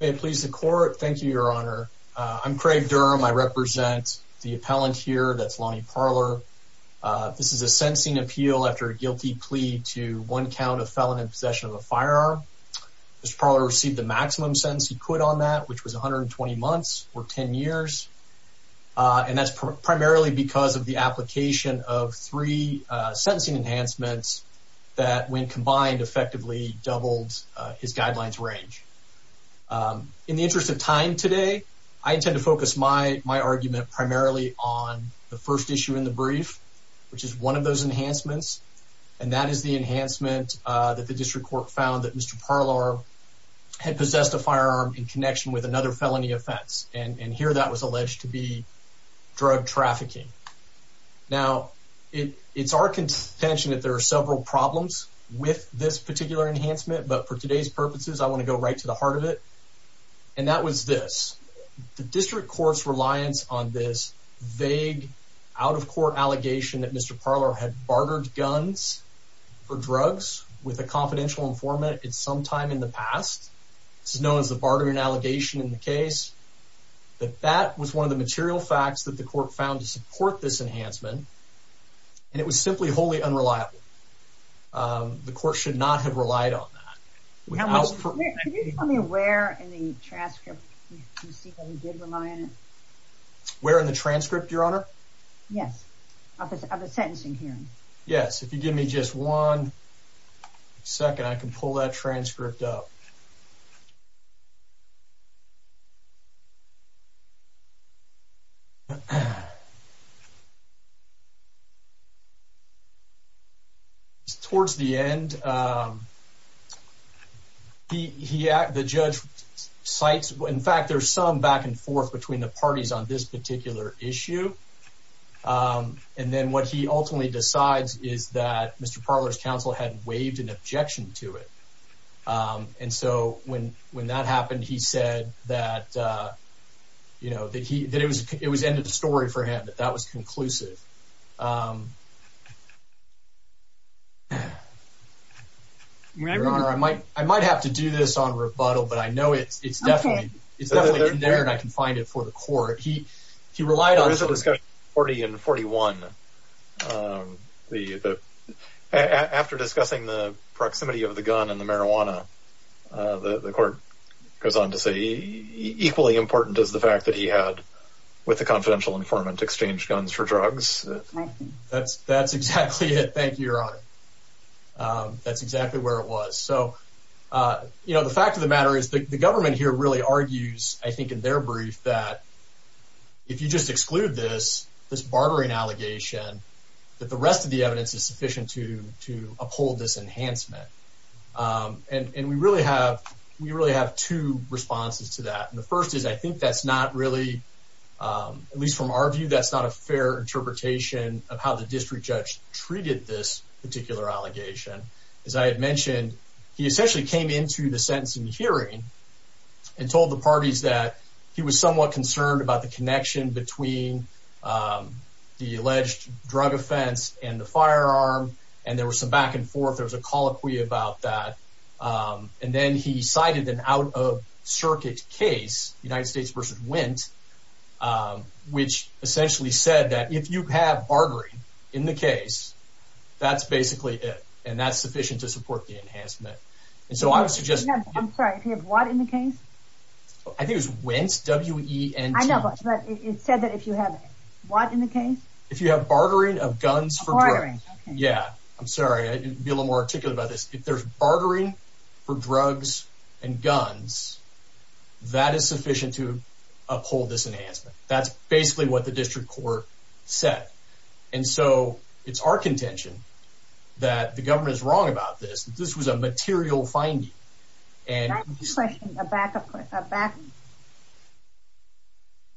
May it please the court. Thank you, Your Honor. I'm Craig Durham. I represent the appellant here. That's Lonnie Parlor. This is a sentencing appeal after a guilty plea to one count of felon in possession of a firearm. Mr. Parlor received the maximum sentence he could on that, which was 120 months or 10 years. And that's primarily because of the application of three sentencing enhancements that, when combined, effectively doubled his guidelines range. In the interest of time today, I intend to focus my argument primarily on the first issue in the brief, which is one of those enhancements, and that is the enhancement that the district court found that Mr. Parlor had possessed a firearm in connection with another felony offense, and here that was alleged to be drug trafficking. Now, it's our contention that there are several problems with this particular enhancement, but for today's purposes, I want to go right to the heart of it, and that was this. The district court's reliance on this vague out-of-court allegation that Mr. Parlor had bartered guns for drugs with a confidential informant at some time in the past, this is known as the bartering allegation in the case, that that was one of the material facts that the court found to support this enhancement, and it was simply wholly unreliable. The court should not have relied on that. Can you tell me where in the transcript you see that he did rely on it? Where in the transcript, Your Honor? Yes, of the sentencing hearing. Yes, if you give me just one second, I can pull that transcript up. Towards the end, the judge cites, in fact, there's some back and forth between the parties on this particular issue, and then what he ultimately decides is that Mr. Parlor's counsel had waived an objection to it, and so when that happened, he said that it was the end of the story for him, that that was conclusive. Your Honor, I might have to do this on rebuttal, but I know it's definitely in there and I can find it for the court. There was a discussion in 40 and 41. After discussing the proximity of the gun and the marijuana, the court goes on to say, equally important is the fact that he had, with the confidential informant, exchanged guns for drugs. That's exactly it. Thank you, Your Honor. That's exactly where it was. The fact of the matter is, the government here really argues, I think in their brief, that if you just exclude this bartering allegation, that the rest of the evidence is sufficient to uphold this enhancement. We really have two responses to that. The first is, I think that's not really, at least from our view, that's not a fair interpretation of how the district judge treated this particular allegation. As I had mentioned, he essentially came into the sentencing hearing and told the parties that he was somewhat concerned about the connection between the alleged drug offense and the firearm. There was some back and forth. There was a colloquy about that. Then he cited an out-of-circuit case, United States v. Wint, which essentially said that if you have bartering in the case, that's basically it, and that's sufficient to support the enhancement. I'm sorry, if you have what in the case? I think it was Wint, W-E-N-T. I know, but it said that if you have what in the case? If you have bartering of guns for drugs. Bartering, okay. Yeah, I'm sorry, I need to be a little more articulate about this. If there's bartering for drugs and guns, that is sufficient to uphold this enhancement. That's basically what the district court said. And so, it's our contention that the government is wrong about this. This was a material finding. Can I ask a question, a back-up question?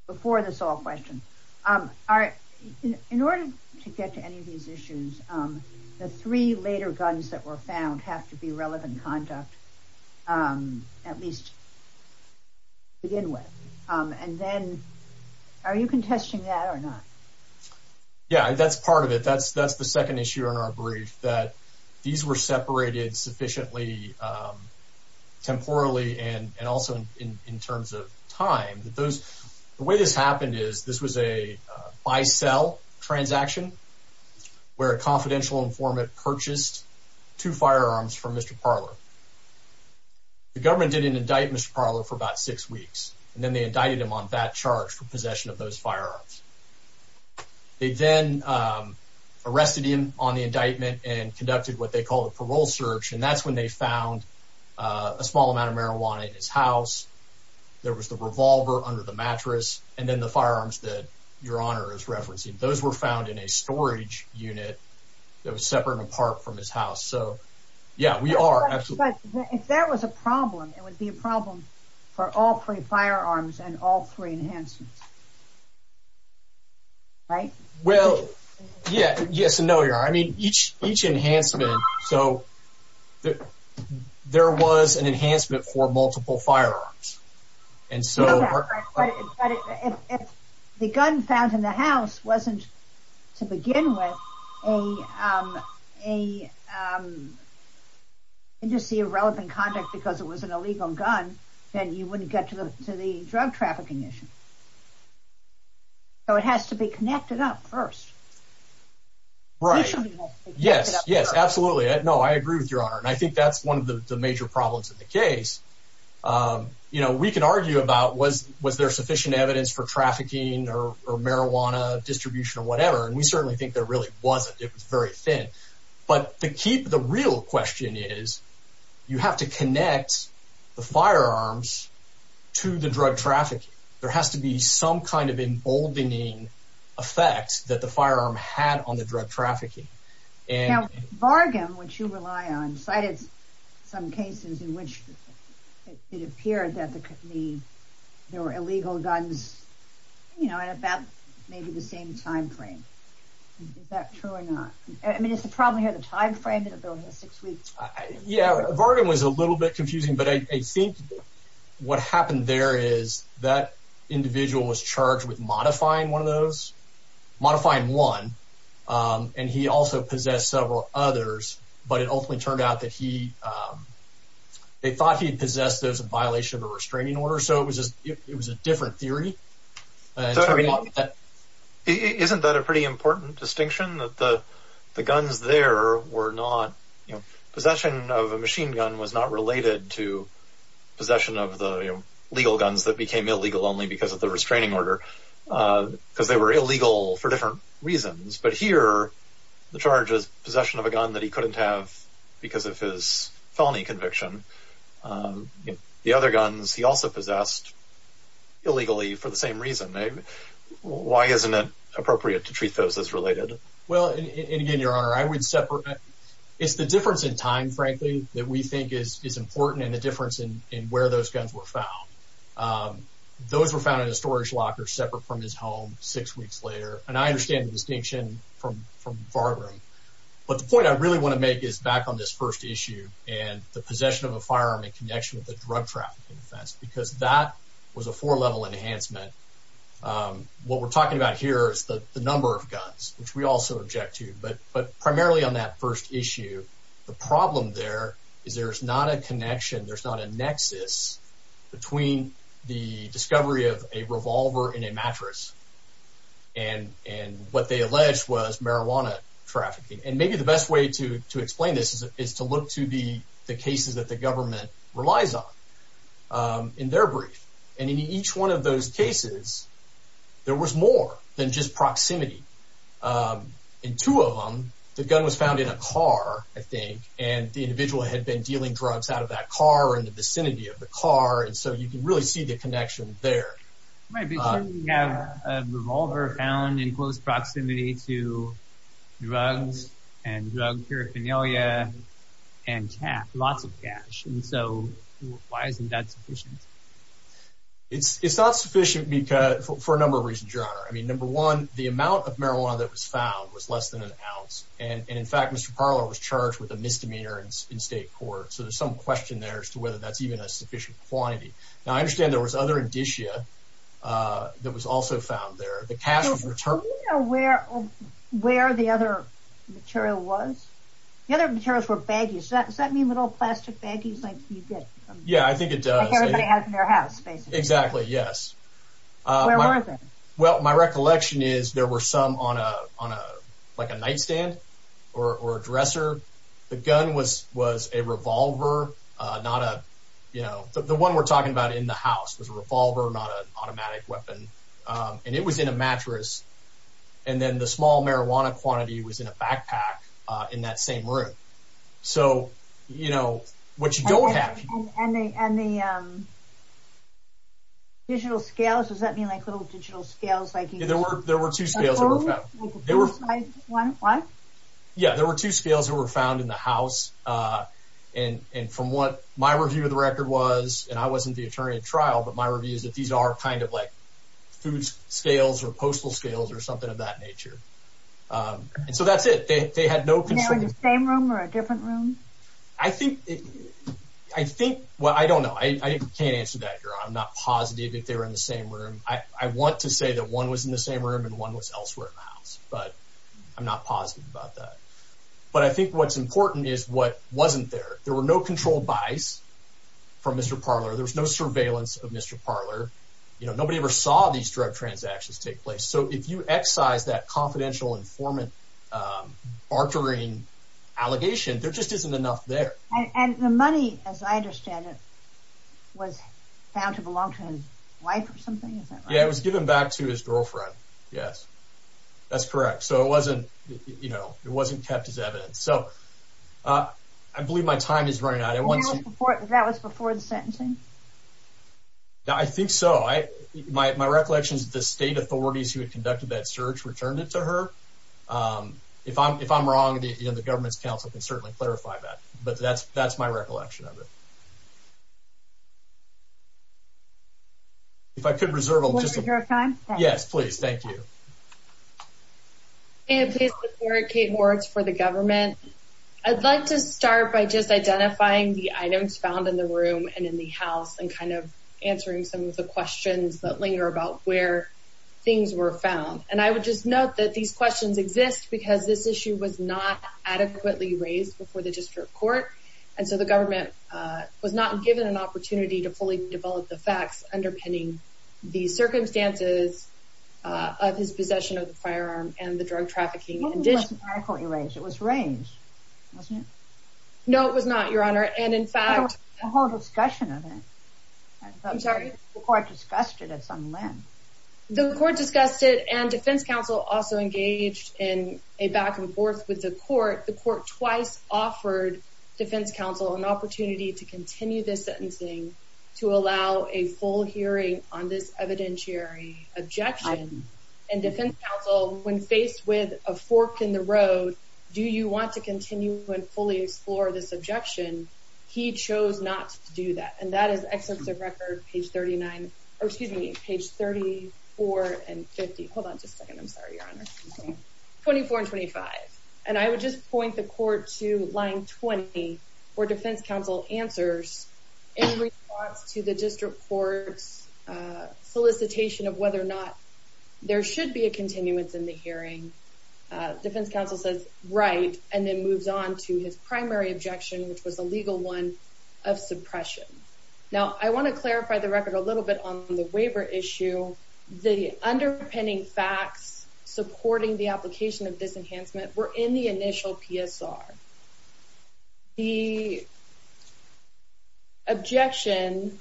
Before this all questions. In order to get to any of these issues, the three later guns that were found have to be relevant conduct, at least to begin with. And then, are you contesting that or not? Yeah, that's part of it. That's the second issue in our brief, that these were separated sufficiently temporally and also in terms of time. The way this happened is, this was a buy-sell transaction where a confidential informant purchased two firearms from Mr. Parler. The government didn't indict Mr. Parler for about six weeks, and then they indicted him on that charge for possession of those firearms. They then arrested him on the indictment and conducted what they called a parole search, and that's when they found a small amount of marijuana in his house. There was the revolver under the mattress, and then the firearms that Your Honor is referencing. Those were found in a storage unit that was separate and apart from his house. Yeah, we are, absolutely. But if there was a problem, it would be a problem for all three firearms and all three enhancements, right? Well, yes and no, Your Honor. I mean, each enhancement, so there was an enhancement for multiple firearms. But if the gun found in the house wasn't, to begin with, an indice of relevant conduct because it was an illegal gun, then you wouldn't get to the drug trafficking issue. So it has to be connected up first. Right, yes, absolutely. No, I agree with Your Honor, and I think that's one of the major problems in the case. You know, we can argue about was there sufficient evidence for trafficking or marijuana distribution or whatever, and we certainly think there really wasn't. It was very thin. But the key, the real question is you have to connect the firearms to the drug trafficking. There has to be some kind of emboldening effect that the firearm had on the drug trafficking. Now, Vargham, which you rely on, cited some cases in which it appeared that there were illegal guns, you know, at about maybe the same time frame. Is that true or not? I mean, is the problem here the time frame that it was over six weeks? Yeah, Vargham was a little bit confusing, but I think what happened there is that individual was charged with modifying one of those, and he also possessed several others, but it ultimately turned out that he, they thought he had possessed those in violation of a restraining order. So it was a different theory. Isn't that a pretty important distinction, that the guns there were not, you know, possession of a machine gun was not related to possession of the legal guns that became illegal only because of the restraining order, because they were illegal for different reasons. But here, the charge is possession of a gun that he couldn't have because of his felony conviction. The other guns he also possessed illegally for the same reason. Why isn't it appropriate to treat those as related? Well, and again, Your Honor, I would separate. It's the difference in time, frankly, that we think is important, and the difference in where those guns were found. Those were found in a storage locker separate from his home six weeks later. And I understand the distinction from Bardram. But the point I really want to make is back on this first issue and the possession of a firearm in connection with a drug trafficking offense, because that was a four-level enhancement. What we're talking about here is the number of guns, which we also object to. But primarily on that first issue, the problem there is there's not a connection, there's not a nexus between the discovery of a revolver and a mattress. And what they alleged was marijuana trafficking. And maybe the best way to explain this is to look to the cases that the government relies on in their brief. And in each one of those cases, there was more than just proximity. In two of them, the gun was found in a car, I think, and the individual had been dealing drugs out of that car or in the vicinity of the car, and so you can really see the connection there. My vision is you have a revolver found in close proximity to drugs and drug paraphernalia and cash, lots of cash. And so why isn't that sufficient? It's not sufficient for a number of reasons, Your Honor. I mean, number one, the amount of marijuana that was found was less than an ounce. And, in fact, Mr. Parler was charged with a misdemeanor in state court. So there's some question there as to whether that's even a sufficient quantity. Now, I understand there was other indicia that was also found there. The cash was returned. Do you know where the other material was? The other materials were baggies. Does that mean little plastic baggies like you get? Yeah, I think it does. Like everybody has in their house, basically. Exactly, yes. Where were they? Well, my recollection is there were some on a nightstand or a dresser. The gun was a revolver, not a, you know, the one we're talking about in the house was a revolver, not an automatic weapon. And it was in a mattress. And then the small marijuana quantity was in a backpack in that same room. So, you know, what you don't have. And the digital scales, does that mean like little digital scales like you use? Yeah, there were two scales that were found. Like a full-sized one? Yeah, there were two scales that were found in the house. And from what my review of the record was, and I wasn't the attorney at trial, but my review is that these are kind of like food scales or postal scales or something of that nature. And so that's it. They had no concern. Were they in the same room or a different room? I think, well, I don't know. I can't answer that, Gerard. I'm not positive if they were in the same room. I want to say that one was in the same room and one was elsewhere in the house. But I'm not positive about that. But I think what's important is what wasn't there. There were no controlled buys from Mr. Parler. There was no surveillance of Mr. Parler. You know, nobody ever saw these drug transactions take place. So if you excise that confidential informant bartering allegation, there just isn't enough there. And the money, as I understand it, was found to belong to his wife or something? Yeah, it was given back to his girlfriend, yes. That's correct. So it wasn't, you know, it wasn't kept as evidence. So I believe my time is running out. That was before the sentencing? I think so. My recollection is that the state authorities who had conducted that search returned it to her. If I'm wrong, the government's counsel can certainly clarify that. But that's my recollection of it. If I could reserve a little bit of your time. Yes, please. Thank you. Hey, this is Eric Kate Hortz for the government. I'd like to start by just identifying the items found in the room and in the house and kind of answering some of the questions that linger about where things were found. And I would just note that these questions exist because this issue was not adequately raised before the district court. And so the government was not given an opportunity to fully develop the facts underpinning the circumstances of his possession of the firearm and the drug trafficking condition. It wasn't adequately raised. It was raised, wasn't it? No, it was not, Your Honor. And in fact— I don't have a whole discussion of it. I'm sorry? The court discussed it at some length. The court discussed it, and defense counsel also engaged in a back-and-forth with the court. The court twice offered defense counsel an opportunity to continue this sentencing to allow a full hearing on this evidentiary objection. And defense counsel, when faced with a fork in the road, do you want to continue and fully explore this objection, he chose not to do that. And that is excerpts of record, page 39—or excuse me, page 34 and 50. Hold on just a second. I'm sorry, Your Honor. 24 and 25. And I would just point the court to line 20 where defense counsel answers in response to the district court's solicitation of whether or not there should be a continuance in the hearing. Defense counsel says, right, and then moves on to his primary objection, which was a legal one, of suppression. Now, I want to clarify the record a little bit on the waiver issue. The underpinning facts supporting the application of this enhancement were in the initial PSR. The objection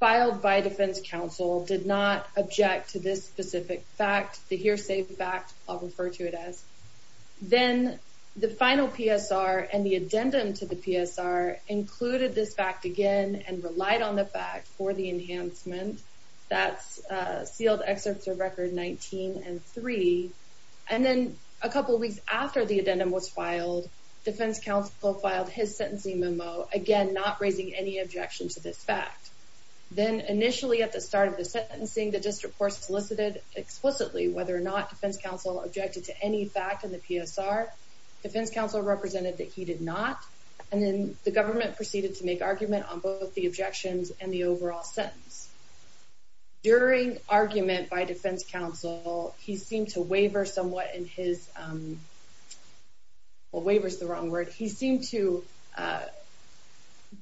filed by defense counsel did not object to this specific fact, the hearsay fact I'll refer to it as. Then the final PSR and the addendum to the PSR included this fact again and relied on the fact for the enhancement. That's sealed excerpts of record 19 and 3. And then a couple weeks after the addendum was filed, defense counsel filed his sentencing memo, again not raising any objection to this fact. Then initially at the start of the sentencing, the district court solicited explicitly whether or not defense counsel objected to any fact in the PSR. Defense counsel represented that he did not. And then the government proceeded to make argument on both the objections and the overall sentence. During argument by defense counsel, he seemed to waver somewhat in his, well, waver is the wrong word. He seemed to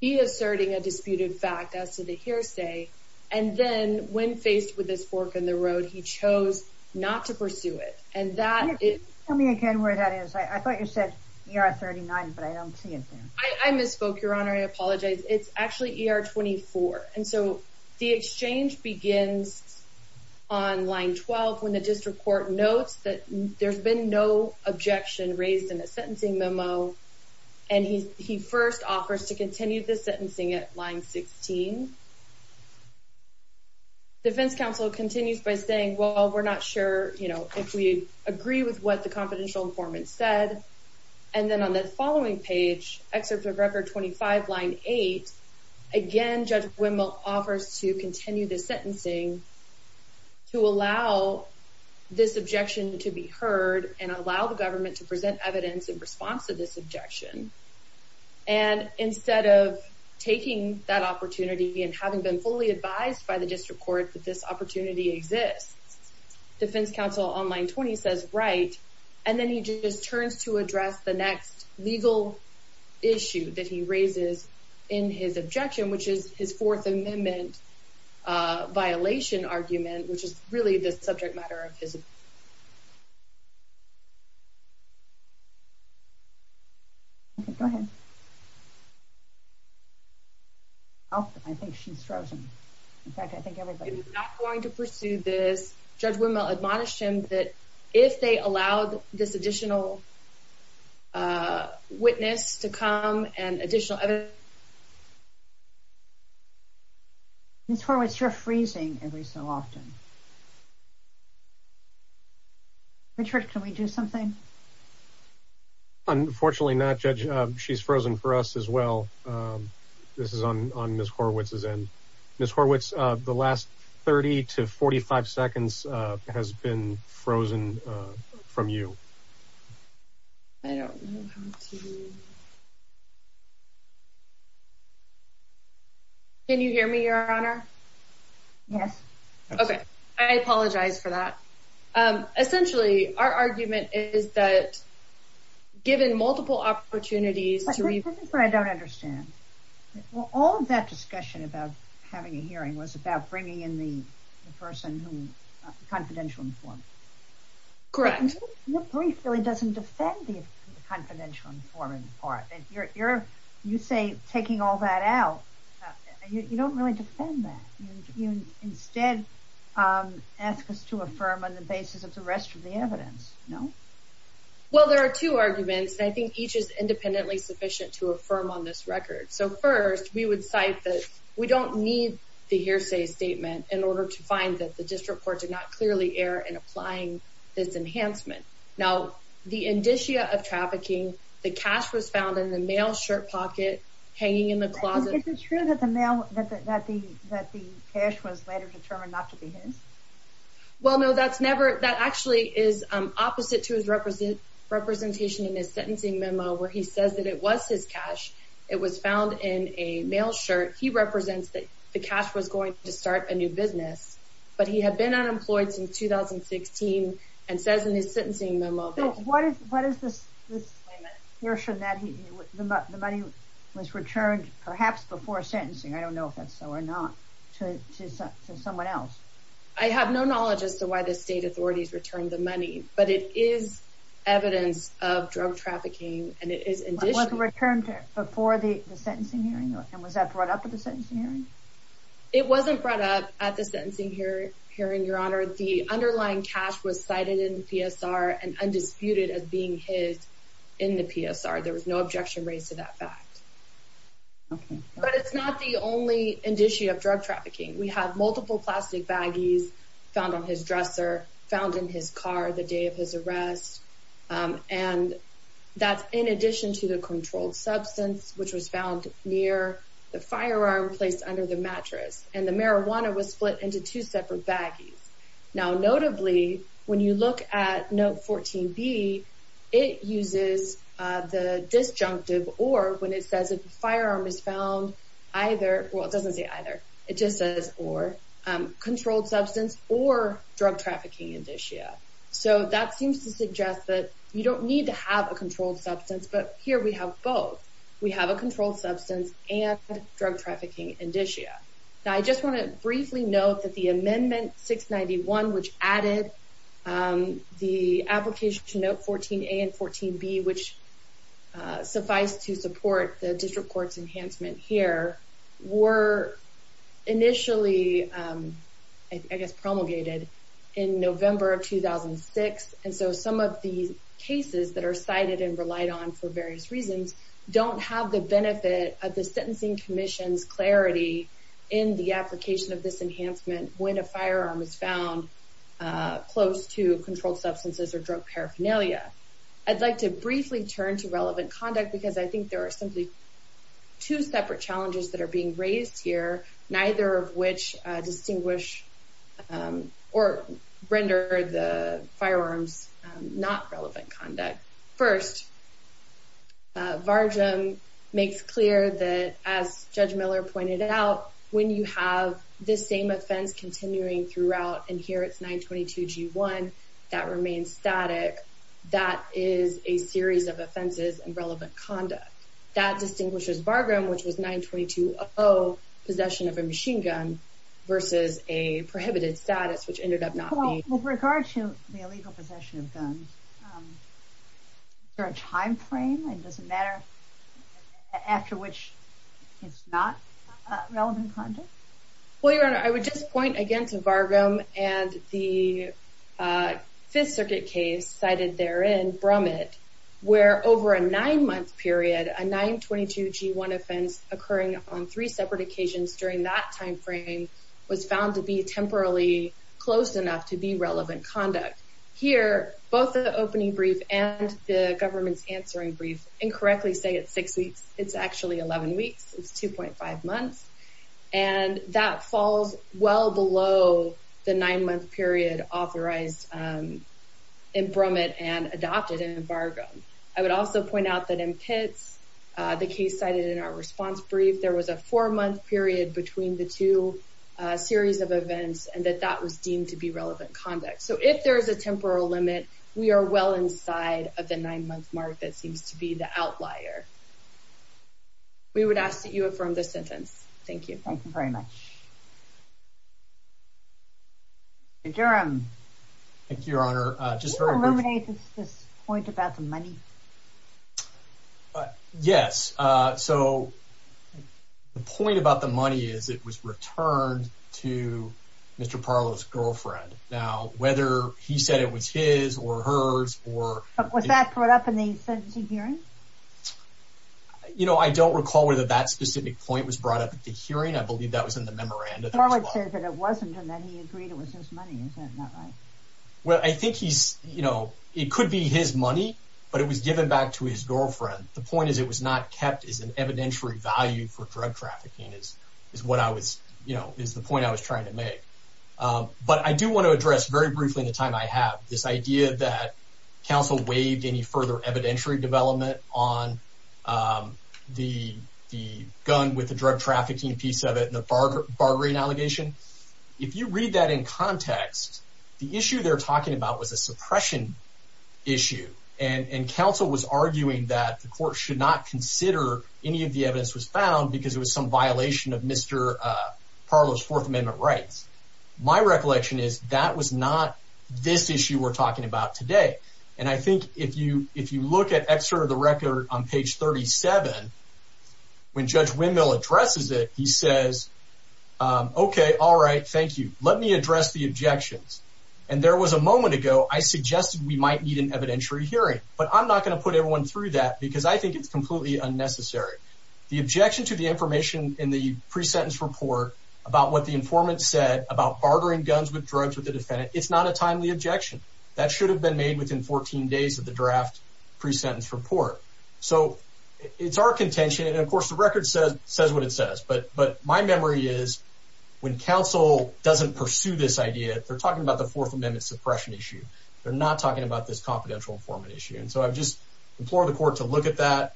be asserting a disputed fact as to the hearsay. And then when faced with this fork in the road, he chose not to pursue it. And that is... Tell me again where that is. I thought you said ER 39, but I don't see it there. I misspoke, Your Honor. I apologize. It's actually ER 24. And so the exchange begins on line 12 when the district court notes that there's been no objection raised in the sentencing memo. And he first offers to continue the sentencing at line 16. Defense counsel continues by saying, well, we're not sure if we agree with what the confidential informant said. And then on the following page, Excerpt of Record 25, line 8, again Judge Wendell offers to continue the sentencing to allow this objection to be heard and allow the government to present evidence in response to this objection. And instead of taking that opportunity and having been fully advised by the district court that this opportunity exists, defense counsel on line 20 says, right. And then he just turns to address the next legal issue that he raises in his objection, which is his Fourth Amendment violation argument, which is really the subject matter of his... Go ahead. Oh, I think she's frozen. In fact, I think everybody... Judge Wendell admonished him that if they allowed this additional witness to come and additional evidence... Ms. Horwitz, you're freezing every so often. Richard, can we do something? Unfortunately not, Judge. She's frozen for us as well. This is on Ms. Horwitz's end. Ms. Horwitz, the last 30 to 45 seconds has been frozen from you. I don't know how to... Can you hear me, Your Honor? Yes. Okay, I apologize for that. Essentially, our argument is that given multiple opportunities... That's what I don't understand. All of that discussion about having a hearing was about bringing in the confidential informant. Correct. Your brief really doesn't defend the confidential informant part. You say taking all that out. You don't really defend that. You instead ask us to affirm on the basis of the rest of the evidence, no? Well, there are two arguments. I think each is independently sufficient to affirm on this record. So first, we would cite that we don't need the hearsay statement in order to find that the district court did not clearly err in applying this enhancement. Now, the indicia of trafficking, the cash was found in the mail shirt pocket hanging in the closet... Is it true that the cash was later determined not to be his? Well, no. That's never... That actually is opposite to his representation in his sentencing memo where he says that it was his cash. It was found in a mail shirt. He represents that the cash was going to start a new business. But he had been unemployed since 2016 and says in his sentencing memo... What is this statement? The money was returned perhaps before sentencing. I don't know if that's so or not to someone else. I have no knowledge as to why the state authorities returned the money. But it is evidence of drug trafficking and it is indicia... Was it returned before the sentencing hearing? And was that brought up at the sentencing hearing? It wasn't brought up at the sentencing hearing, Your Honor. The underlying cash was cited in the PSR and undisputed as being his in the PSR. There was no objection raised to that fact. But it's not the only indicia of drug trafficking. We have multiple plastic baggies found on his dresser, found in his car the day of his arrest. And that's in addition to the controlled substance, which was found near the firearm placed under the mattress. And the marijuana was split into two separate baggies. Now, notably, when you look at Note 14B, it uses the disjunctive... When it says the firearm is found either... Well, it doesn't say either. It just says or. Controlled substance or drug trafficking indicia. So that seems to suggest that you don't need to have a controlled substance. But here we have both. We have a controlled substance and drug trafficking indicia. Now, I just want to briefly note that the Amendment 691, which added the application to Note 14A and 14B, which suffice to support the district court's enhancement here, were initially, I guess, promulgated in November of 2006. And so some of the cases that are cited and relied on for various reasons don't have the benefit of the Sentencing Commission's clarity in the application of this enhancement when a firearm is found close to controlled substances or drug paraphernalia. I'd like to briefly turn to relevant conduct because I think there are simply two separate challenges that are being raised here, neither of which distinguish or render the firearms not relevant conduct. First, VARGM makes clear that, as Judge Miller pointed out, when you have this same offense continuing throughout, and here it's 922G1, that remains static, that is a series of offenses and relevant conduct. That distinguishes VARGM, which was 922O, possession of a machine gun, versus a prohibited status, which ended up not being. Well, with regard to the illegal possession of guns, is there a time frame? Does it matter after which it's not relevant conduct? Well, Your Honor, I would just point again to VARGM and the Fifth Circuit case cited therein, Brummitt, where over a nine-month period, a 922G1 offense occurring on three separate occasions during that time frame was found to be temporally close enough to be relevant conduct. Here, both the opening brief and the government's answering brief incorrectly say it's six weeks. It's actually 11 weeks. It's 2.5 months. And that falls well below the nine-month period authorized in Brummitt and adopted in VARGM. I would also point out that in Pitts, the case cited in our response brief, there was a four-month period between the two series of events, and that that was deemed to be relevant conduct. So if there is a temporal limit, we are well inside of the nine-month mark that seems to be the outlier. We would ask that you affirm this sentence. Thank you. Thank you very much. Mr. Durham. Thank you, Your Honor. Can you eliminate this point about the money? Yes. So the point about the money is it was returned to Mr. Parlow's girlfriend. Now, whether he said it was his or hers or... Was that brought up in the sentencing hearing? You know, I don't recall whether that specific point was brought up at the hearing. I believe that was in the memorandum. Parlow said that it wasn't and that he agreed it was his money. Is that not right? Well, I think he's, you know, it could be his money, but it was given back to his girlfriend. The point is it was not kept as an evidentiary value for drug trafficking is what I was, you know, is the point I was trying to make. But I do want to address very briefly in the time I have this idea that counsel waived any further evidentiary development on the gun with the drug trafficking piece of it and the bartering allegation. If you read that in context, the issue they're talking about was a suppression issue, and counsel was arguing that the court should not consider any of the evidence was found because it was some violation of Mr. Parlow's Fourth Amendment rights. My recollection is that was not this issue we're talking about today. And I think if you look at excerpt of the record on page 37, when Judge Windmill addresses it, he says, okay, all right, thank you. Let me address the objections. And there was a moment ago I suggested we might need an evidentiary hearing, but I'm not going to put everyone through that because I think it's completely unnecessary. The objection to the information in the pre-sentence report about what the informant said about bartering guns with drugs with the defendant, it's not a timely objection. That should have been made within 14 days of the draft pre-sentence report. So it's our contention, and of course the record says what it says. But my memory is when counsel doesn't pursue this idea, they're talking about the Fourth Amendment suppression issue. They're not talking about this confidential informant issue. And so I just implore the court to look at that.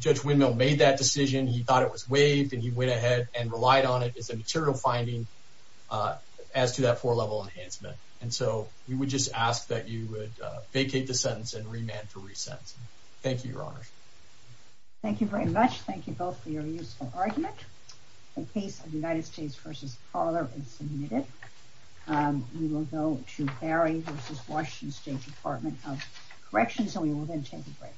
Judge Windmill made that decision. He thought it was waived, and he went ahead and relied on it as a material finding as to that four-level enhancement. And so we would just ask that you would vacate the sentence and remand to re-sentence. Thank you, Your Honors. Thank you very much. Thank you both for your useful argument. The case of the United States v. Parler is submitted. We will go to Harry v. Washington State Department of Corrections, and we will then take a break.